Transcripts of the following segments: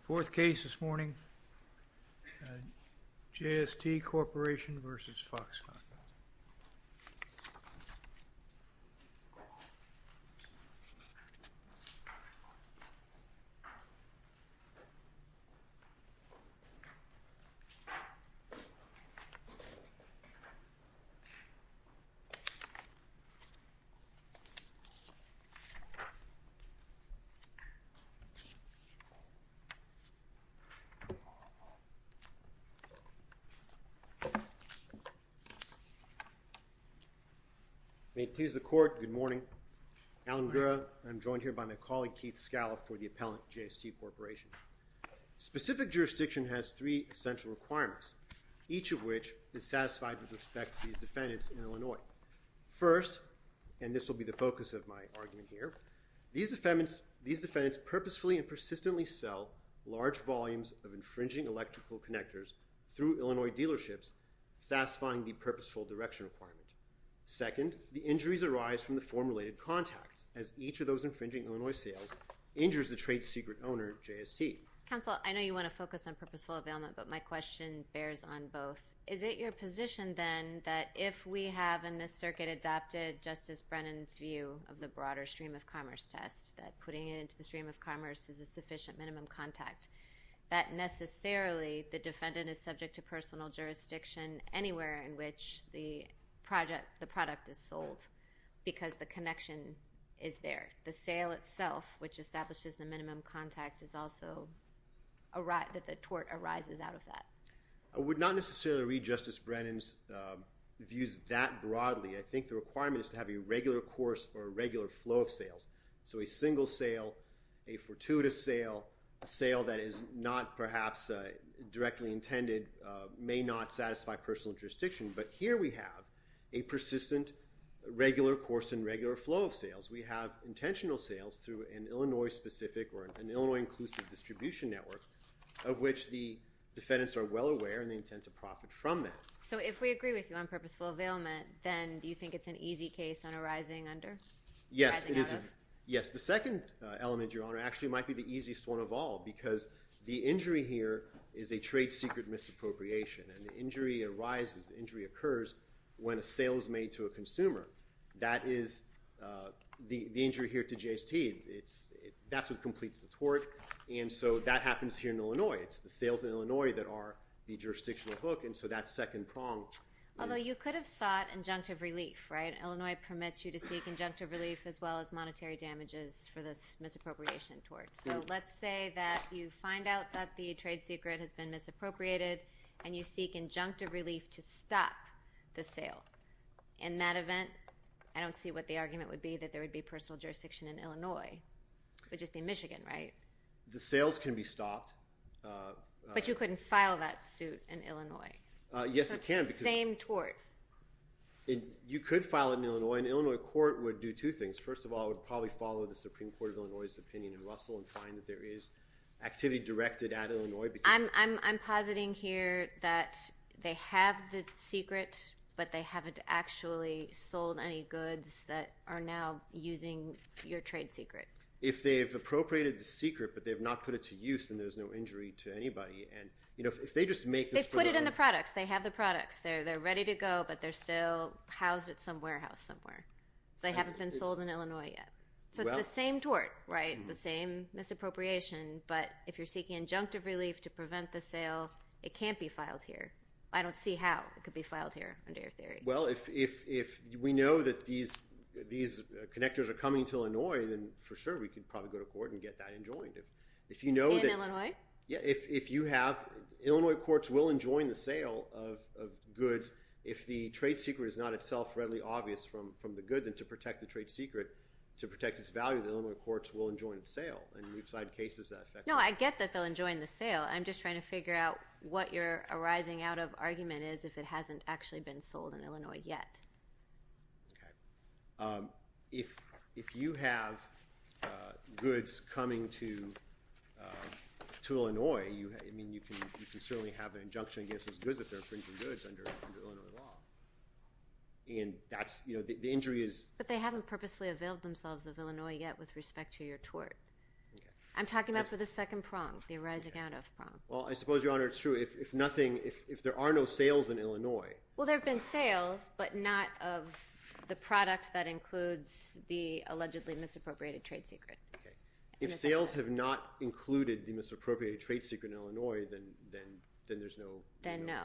Fourth case this morning, J.S.T. Corporation v. Foxconn. I'm joined here by my colleague Keith Scaliff for the appellant, J.S.T. Corporation. Specific jurisdiction has three essential requirements, each of which is satisfied with respect to these defendants in Illinois. First, and this will be the focus of my argument here, these defendants purposefully and persistently sell large volumes of infringing electrical connectors through Illinois dealerships, satisfying the purposeful direction requirement. Second, the injuries arise from the form-related contacts, as each of those infringing Illinois sales injures the trade secret owner, J.S.T. Counsel, I know you want to focus on purposeful availment, but my question bears on both. Is it your position then that if we have in this circuit adopted Justice Brennan's view of the broader stream of commerce test, that putting it into the stream of commerce is a sufficient minimum contact, that necessarily the defendant is subject to personal jurisdiction anywhere in which the product is sold, because the connection is there. The sale itself, which establishes the minimum contact, is also that the tort arises out of that. I would not necessarily read Justice Brennan's views that broadly. I think the requirement is to have a regular course or a regular flow of sales. So a single sale, a fortuitous sale, a sale that is not perhaps directly intended may not satisfy personal jurisdiction, but here we have a persistent regular course and regular flow of sales. We have intentional sales through an Illinois-specific or an Illinois-inclusive distribution network of which the defendants are well aware and they intend to profit from that. So if we agree with you on purposeful availment, then do you think it's an easy case on arising under? Yes, it is. Arising out of? Yes. The second element, Your Honor, actually might be the easiest one of all, because the injury here is a trade-secret misappropriation, and the injury arises, the injury occurs when a sale is made to a consumer. That is the injury here to JST, that's what completes the tort, and so that happens here in Illinois. It's the sales in Illinois that are the jurisdictional hook, and so that second prong is— Although you could have sought injunctive relief, right? Illinois permits you to seek injunctive relief as well as monetary damages for this misappropriation tort. So let's say that you find out that the trade-secret has been misappropriated and you seek injunctive relief to stop the sale. In that event, I don't see what the argument would be that there would be personal jurisdiction in Illinois. It would just be Michigan, right? The sales can be stopped. But you couldn't file that suit in Illinois. Yes, it can. It's the same tort. And you could file it in Illinois, and the Illinois court would do two things. First of all, it would probably follow the Supreme Court of Illinois' opinion in Russell and find that there is activity directed at Illinois. I'm positing here that they have the secret, but they haven't actually sold any goods that are now using your trade-secret. If they've appropriated the secret, but they've not put it to use, then there's no injury to anybody. And if they just make this for— They've put it in the products. They have the products. They're ready to go, but they're still housed at some warehouse somewhere. They haven't been sold in Illinois yet. So it's the same tort, right? The same misappropriation. But if you're seeking injunctive relief to prevent the sale, it can't be filed here. I don't see how it could be filed here under your theory. Well, if we know that these connectors are coming to Illinois, then for sure we could If you know that— In Illinois? Yeah. If you have—Illinois courts will enjoin the sale of goods if the trade-secret is not itself readily obvious from the goods, and to protect the trade-secret, to protect its value, the Illinois courts will enjoin its sale. And we've cited cases that affect that. No, I get that they'll enjoin the sale. I'm just trying to figure out what your arising out of argument is if it hasn't actually been sold in Illinois yet. Okay. If you have goods coming to Illinois, I mean, you can certainly have an injunction against those goods if they're infringing goods under Illinois law. And that's—the injury is— But they haven't purposefully availed themselves of Illinois yet with respect to your tort. Okay. I'm talking about for the second prong, the arising out of prong. Well, I suppose, Your Honor, it's true. If nothing—if there are no sales in Illinois— Well, there have been sales, but not of the product that includes the allegedly misappropriated trade-secret. Okay. If sales have not included the misappropriated trade-secret in Illinois, then there's no— Then no.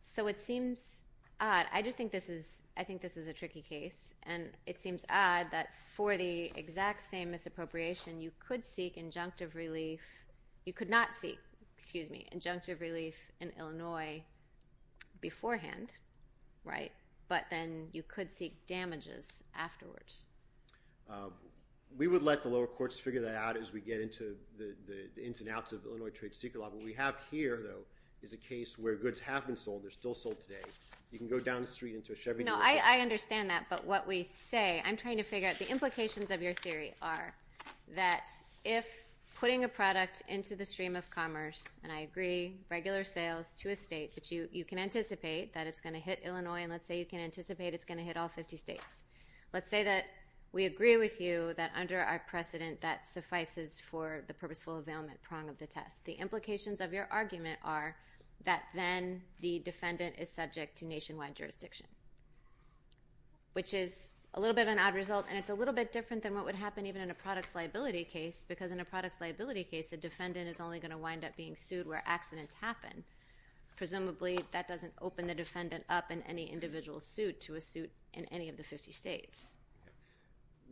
So it seems odd. I just think this is—I think this is a tricky case. And it seems odd that for the exact same misappropriation, you could seek injunctive relief—you could not seek, excuse me, injunctive relief in Illinois beforehand, right? But then you could seek damages afterwards. We would let the lower courts figure that out as we get into the ins and outs of Illinois trade-secret law. What we have here, though, is a case where goods have been sold. They're still sold today. You can go down the street into a Chevrolet— No, I understand that. But what we say—I'm trying to figure out—the implications of your theory are that if putting a product into the stream of commerce—and I agree, regular sales to a state that you can anticipate that it's going to hit Illinois, and let's say you can anticipate it's going to hit all 50 states—let's say that we agree with you that under our precedent, that suffices for the purposeful availment prong of the test. The implications of your argument are that then the defendant is subject to nationwide jurisdiction, which is a little bit of an odd result. And it's a little bit different than what would happen even in a products liability case, because in a products liability case, a defendant is only going to wind up being sued where accidents happen. Presumably, that doesn't open the defendant up in any individual suit to a suit in any of the 50 states.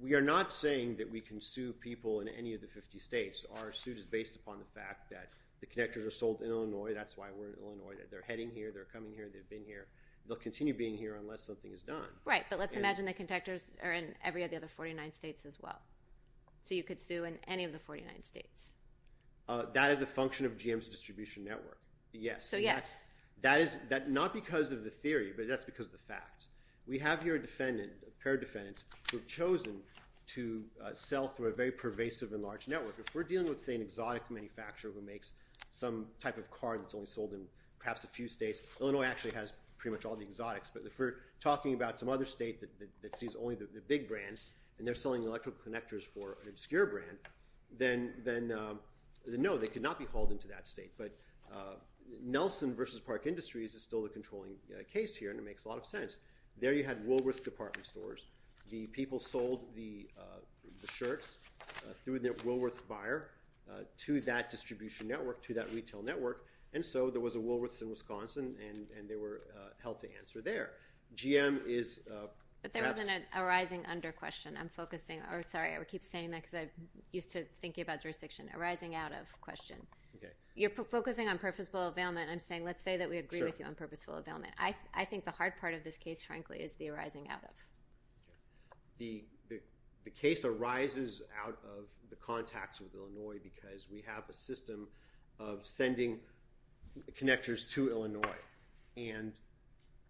We are not saying that we can sue people in any of the 50 states. Our suit is based upon the fact that the connectors are sold in Illinois. That's why we're in Illinois. They're heading here. They're coming here. They've been here. They'll continue being here unless something is done. Right. But let's imagine the connectors are in every other 49 states as well. So you could sue in any of the 49 states. That is a function of GM's distribution network. Yes. So yes. That is not because of the theory, but that's because of the facts. We have here a defendant, a pair of defendants, who have chosen to sell through a very pervasive and large network. If we're dealing with, say, an exotic manufacturer who makes some type of car that's only sold in perhaps a few states, Illinois actually has pretty much all the exotics. But if we're talking about some other state that sees only the big brands, and they're selling electrical connectors for an obscure brand, then no, they could not be hauled into that state. But Nelson v. Park Industries is still the controlling case here, and it makes a lot of sense. There you had Woolworth's department stores. The people sold the shirts through their Woolworth's buyer to that distribution network, to that retail network, and so there was a Woolworth's in Wisconsin, and they were held to answer there. GM is perhaps— But there wasn't a rising under question. Sorry, I keep saying that because I'm used to thinking about jurisdiction. A rising out of question. You're focusing on purposeful availment. I'm saying let's say that we agree with you on purposeful availment. I think the hard part of this case, frankly, is the arising out of. The case arises out of the contacts with Illinois because we have a system of sending connectors to Illinois, and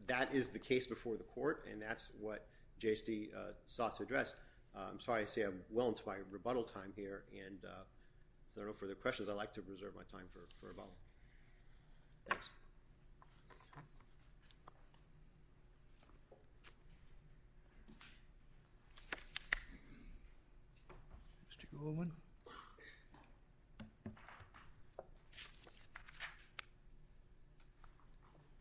that is the case before the court, and that's what JSD sought to address. I'm sorry to say I'm well into my rebuttal time here, and if there are no further questions, I'd like to reserve my time for rebuttal. Thanks. Mr. Goldman?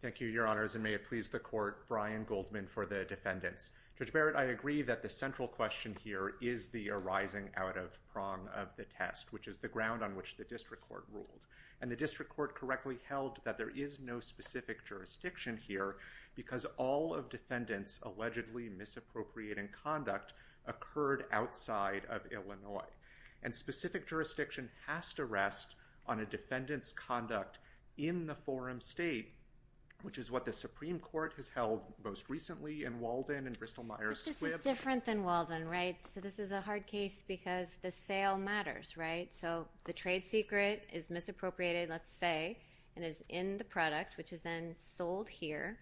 Thank you, Your Honors, and may it please the Court, Brian Goldman for the defendants. Judge Barrett, I agree that the central question here is the arising out of prong of the test, which is the ground on which the district court ruled, and the district court correctly held that there is no specific jurisdiction here because all of defendants' allegedly misappropriating conduct occurred outside of Illinois, and specific jurisdiction has to rest on a defendant's conduct in the forum state, which is what the Supreme Court has held most recently in Walden and Bristol-Myers Squibb. This is different than Walden, right? So this is a hard case because the sale matters, right? So the trade secret is misappropriated, let's say, and is in the product, which is then sold here,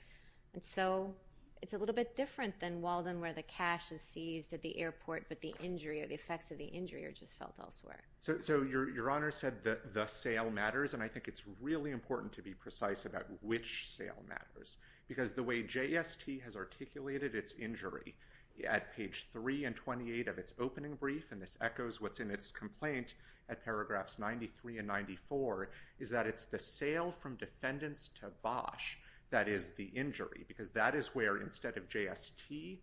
and so it's a little bit different than Walden where the cash is seized at the airport, but the injury or the effects of the injury are just felt elsewhere. So Your Honor said the sale matters, and I think it's really important to be precise about which sale matters, because the way JST has articulated its injury at page 3 and 28 of its opening brief, and this echoes what's in its complaint at paragraphs 93 and 94, is that it's the sale from defendants to Bosch that is the injury, because that is where instead of JST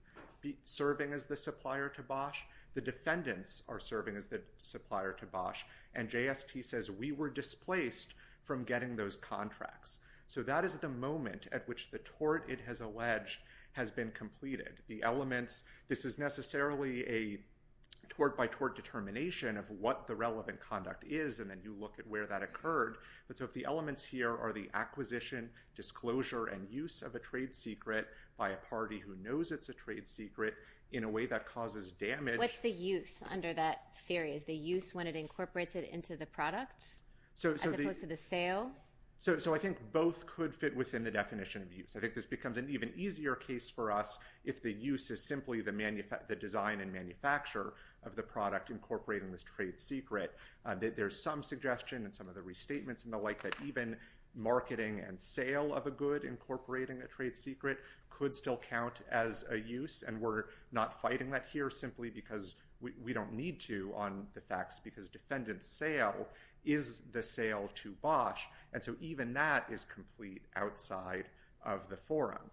serving as the supplier to Bosch, the defendants are serving as the supplier to Bosch, and JST says, we were displaced from getting those contracts. So that is the moment at which the tort it has alleged has been completed. The elements, this is necessarily a tort-by-tort determination of what the relevant conduct is, and then you look at where that occurred, but so if the elements here are the acquisition, disclosure, and use of a trade secret by a party who knows it's a trade secret in a way that causes damage. What's the use under that theory? Is the use when it incorporates it into the product, as opposed to the sale? So I think both could fit within the definition of use. I think this becomes an even easier case for us if the use is simply the design and manufacture of the product incorporating this trade secret. There's some suggestion and some of the restatements and the like that even marketing and sale of a good incorporating a trade secret could still count as a use, and we're not fighting that here simply because we don't need to on the facts because defendant's sale is the sale to Bosch, and so even that is complete outside of the forum.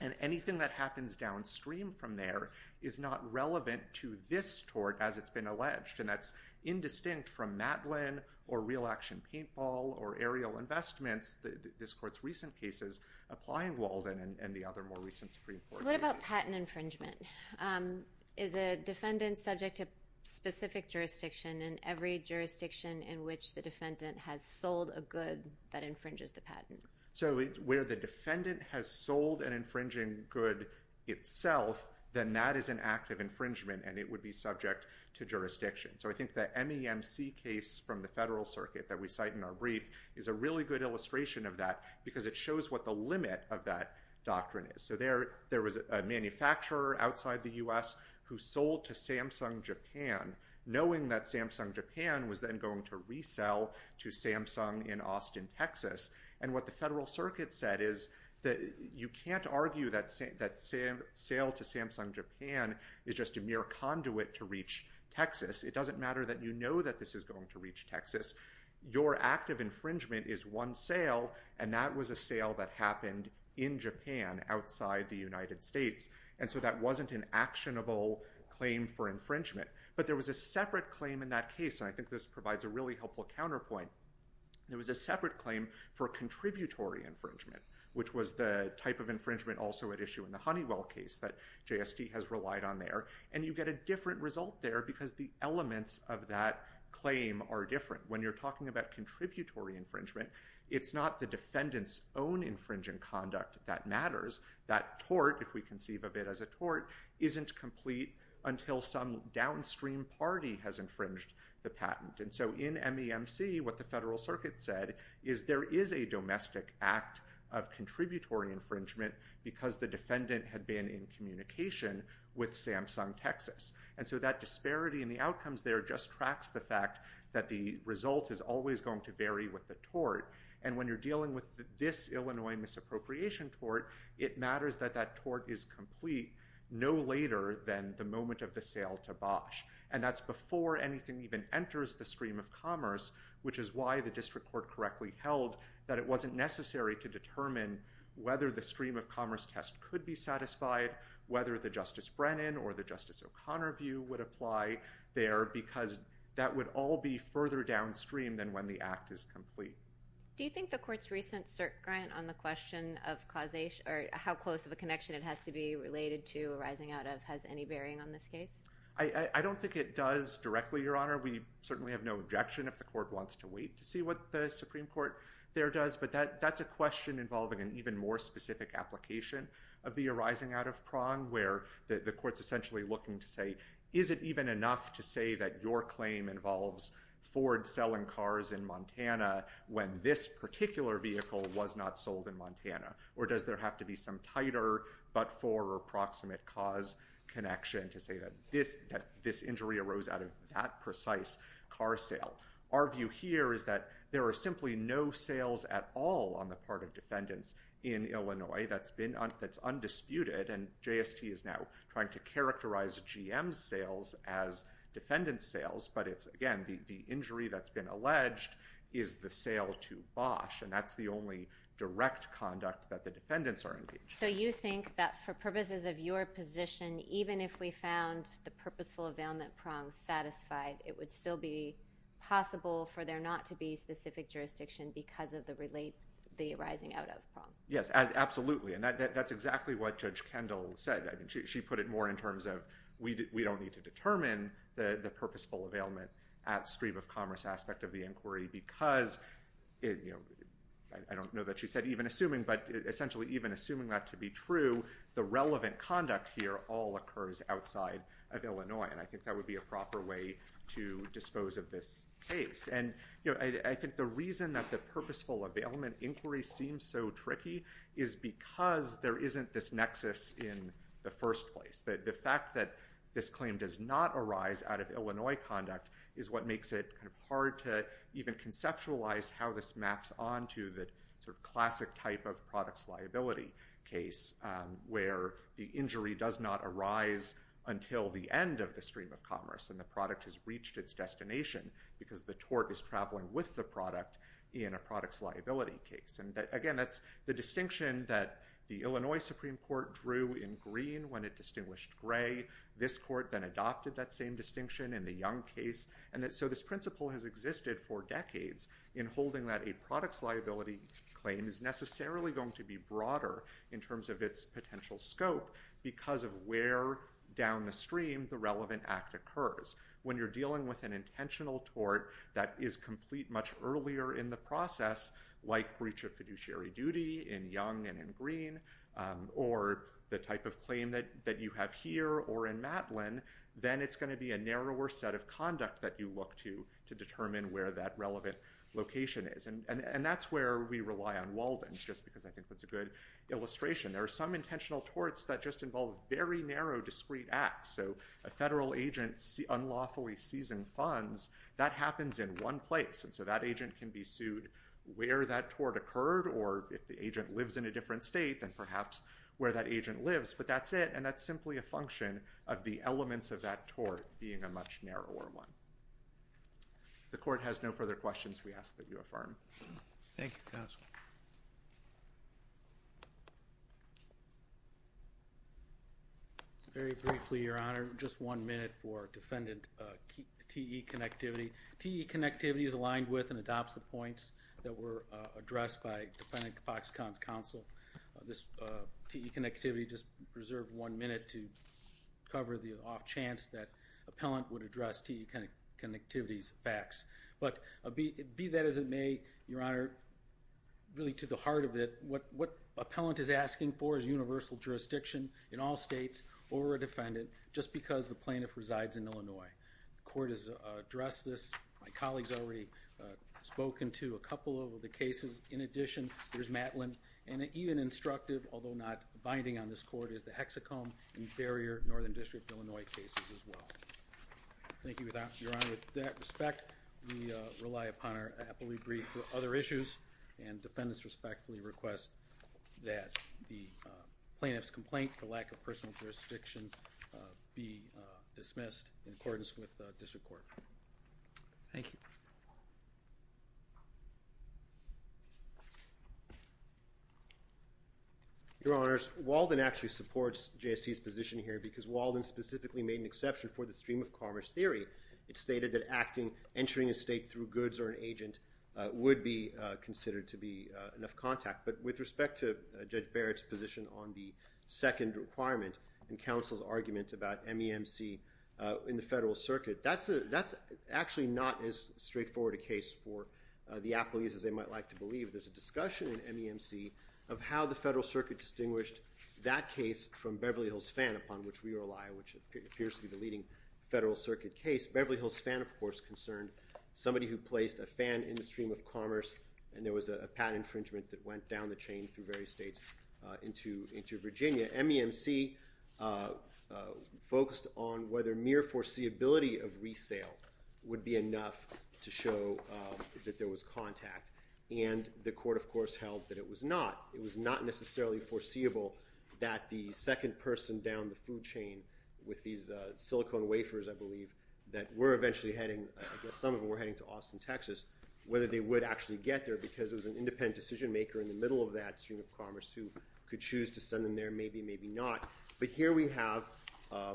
And anything that happens downstream from there is not relevant to this tort as it's been alleged, and that's indistinct from Matlin or Real Action Paintball or Ariel Investments, this court's recent cases, applying Walden and the other more recent Supreme Court cases. What about patent infringement? Is a defendant subject to specific jurisdiction in every jurisdiction in which the defendant has sold a good that infringes the patent? So where the defendant has sold an infringing good itself, then that is an act of infringement and it would be subject to jurisdiction. So I think the MEMC case from the Federal Circuit that we cite in our brief is a really good illustration of that because it shows what the limit of that doctrine is. So there was a manufacturer outside the U.S. who sold to Samsung Japan knowing that Samsung Japan was then going to resell to Samsung in Austin, Texas, and what the Federal Circuit said is that you can't argue that sale to Samsung Japan is just a mere conduit to reach Texas. It doesn't matter that you know that this is going to reach Texas. Your act of infringement is one sale and that was a sale that happened in Japan outside the United States, and so that wasn't an actionable claim for infringement. But there was a separate claim in that case, and I think this provides a really helpful counterpoint. There was a separate claim for contributory infringement, which was the type of infringement also at issue in the Honeywell case that JST has relied on there, and you get a different result there because the elements of that claim are different. But when you're talking about contributory infringement, it's not the defendant's own infringing conduct that matters. That tort, if we conceive of it as a tort, isn't complete until some downstream party has infringed the patent. And so in MEMC, what the Federal Circuit said is there is a domestic act of contributory infringement because the defendant had been in communication with Samsung Texas, and so that disparity in the outcomes there just tracks the fact that the result is always going to vary with the tort. And when you're dealing with this Illinois misappropriation tort, it matters that that tort is complete no later than the moment of the sale to Bosch. And that's before anything even enters the stream of commerce, which is why the district court correctly held that it wasn't necessary to determine whether the stream of commerce test could be satisfied, whether the Justice Brennan or the Justice O'Connor view would apply there, because that would all be further downstream than when the act is complete. Do you think the court's recent cert grant on the question of causation, or how close of a connection it has to be related to arising out of, has any bearing on this case? I don't think it does directly, Your Honor. We certainly have no objection if the court wants to wait to see what the Supreme Court there does, but that's a question involving an even more specific application of the arising out of prong, where the court's essentially looking to say, is it even enough to say that your claim involves Ford selling cars in Montana when this particular vehicle was not sold in Montana? Or does there have to be some tighter but-for or proximate cause connection to say that this injury arose out of that precise car sale? Our view here is that there are simply no sales at all on the part of defendants in Illinois that's undisputed, and JST is now trying to characterize GM's sales as defendant's sales, but it's, again, the injury that's been alleged is the sale to Bosch, and that's the only direct conduct that the defendants are engaged in. So you think that for purposes of your position, even if we found the purposeful possible for there not to be specific jurisdiction because of the arising out of prong? Yes, absolutely. And that's exactly what Judge Kendall said. She put it more in terms of, we don't need to determine the purposeful availment at stream of commerce aspect of the inquiry because, I don't know that she said even assuming, but essentially even assuming that to be true, the relevant conduct here all occurs outside of Illinois, and I think that would be a proper way to dispose of this case. And, you know, I think the reason that the purposeful availment inquiry seems so tricky is because there isn't this nexus in the first place. The fact that this claim does not arise out of Illinois conduct is what makes it kind of hard to even conceptualize how this maps onto the sort of classic type of products liability case where the injury does not arise until the end of the designation because the tort is traveling with the product in a products liability case. And again, that's the distinction that the Illinois Supreme Court drew in green when it distinguished gray. This court then adopted that same distinction in the Young case, and so this principle has existed for decades in holding that a products liability claim is necessarily going to be broader in terms of its potential scope because of where down the stream the relevant act occurs. When you're dealing with an intentional tort that is complete much earlier in the process, like breach of fiduciary duty in Young and in Green, or the type of claim that you have here or in Matlin, then it's going to be a narrower set of conduct that you look to to determine where that relevant location is. And that's where we rely on Walden, just because I think that's a good illustration. There are some intentional torts that just involve very narrow, discrete acts. So a federal agent unlawfully seizing funds, that happens in one place, and so that agent can be sued where that tort occurred or if the agent lives in a different state, then perhaps where that agent lives. But that's it, and that's simply a function of the elements of that tort being a much narrower one. If the court has no further questions, we ask that you affirm. Thank you, counsel. Very briefly, Your Honor, just one minute for Defendant T.E. Connectivity. T.E. Connectivity is aligned with and adopts the points that were addressed by Defendant Foxconn's counsel. This T.E. Connectivity just reserved one minute to cover the off chance that appellant would address T.E. Connectivity's facts. But be that as it may, Your Honor, really to the heart of it, what appellant is asking for is universal jurisdiction in all states over a defendant, just because the plaintiff resides in Illinois. The court has addressed this. My colleagues have already spoken to a couple of the cases. In addition, there's Matlin, and even instructive, although not binding on this court, is the hexacomb and barrier northern district Illinois cases as well. Thank you, Your Honor. With that respect, we rely upon our appellee brief for other issues, and defendants respectfully request that the plaintiff's complaint for lack of personal jurisdiction be dismissed in accordance with district court. Thank you. Your Honors, Walden actually supports JST's position here because Walden specifically made an exception for the stream of commerce theory. It stated that entering a state through goods or an agent would be considered to be enough contact. But with respect to Judge Barrett's position on the second requirement and counsel's argument about MEMC in the federal circuit, that's actually not as straightforward a case for the appellees as they might like to believe. There's a discussion in MEMC of how the federal circuit distinguished that which appears to be the leading federal circuit case. Beverly Hills Fan, of course, concerned somebody who placed a fan in the stream of commerce, and there was a patent infringement that went down the chain through various states into Virginia. MEMC focused on whether mere foreseeability of resale would be enough to show that there was contact. And the court, of course, held that it was not. It was not necessarily foreseeable that the second person down the food chain with these silicone wafers, I believe, that were eventually heading to Austin, Texas, whether they would actually get there because it was an independent decision maker in the middle of that stream of commerce who could choose to send them there. Maybe, maybe not. But here we have a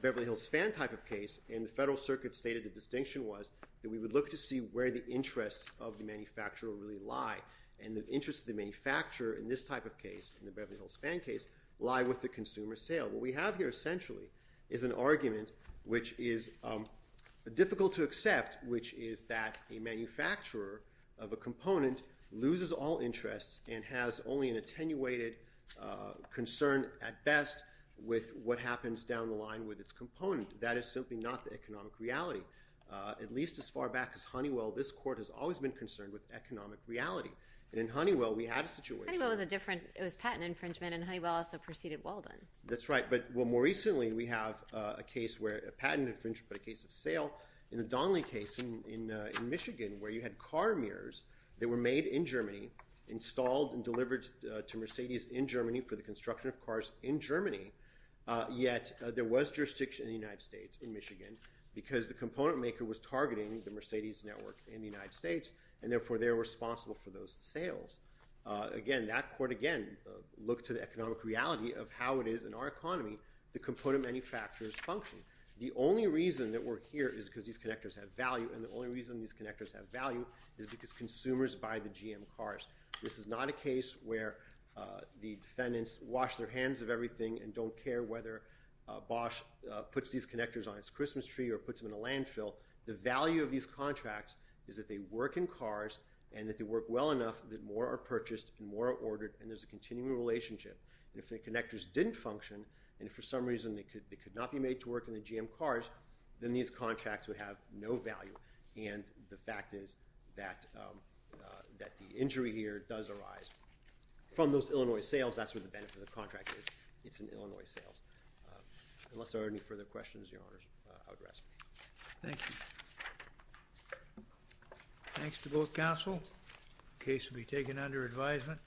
Beverly Hills Fan type of case, and the federal circuit stated the distinction was that we would look to see where the interests of the manufacturer really lie. And the interests of the manufacturer in this type of case, in the Beverly Hills Fan case, lie with the consumer sale. What we have here essentially is an argument which is difficult to accept, which is that a manufacturer of a component loses all interest and has only an attenuated concern at best with what happens down the line with its component. That is simply not the economic reality. At least as far back as Honeywell, this court has always been concerned with economic reality. And in Honeywell, we had a situation. Honeywell was a different, it was patent infringement, and Honeywell also preceded Walden. That's right. But more recently, we have a case where a patent infringement, but a case of sale. In the Donnelly case in Michigan, where you had car mirrors that were made in Germany, installed and delivered to Mercedes in Germany for the construction of cars in Germany, yet there was jurisdiction in the United States, in Michigan, because the component maker was targeting the Mercedes network in the United States, and therefore they were responsible for those sales. Again, that court, again, looked to the economic reality of how it is in our economy the component manufacturers function. The only reason that we're here is because these connectors have value, and the only reason these connectors have value is because consumers buy the GM cars. This is not a case where the defendants wash their hands of everything and don't care whether Bosch puts these connectors on its Christmas tree or puts them in a landfill. The value of these contracts is that they work in cars and that they work well enough that more are purchased and more are ordered, and there's a continuing relationship. If the connectors didn't function, and if for some reason they could not be made to work in the GM cars, then these contracts would have no value. And the fact is that the injury here does arise from those Illinois sales. That's where the benefit of the contract is. It's an Illinois sales. Unless there are any further questions, Your Honors, I would rest. Thank you. Thanks to both counsel. The case will be taken under advisement.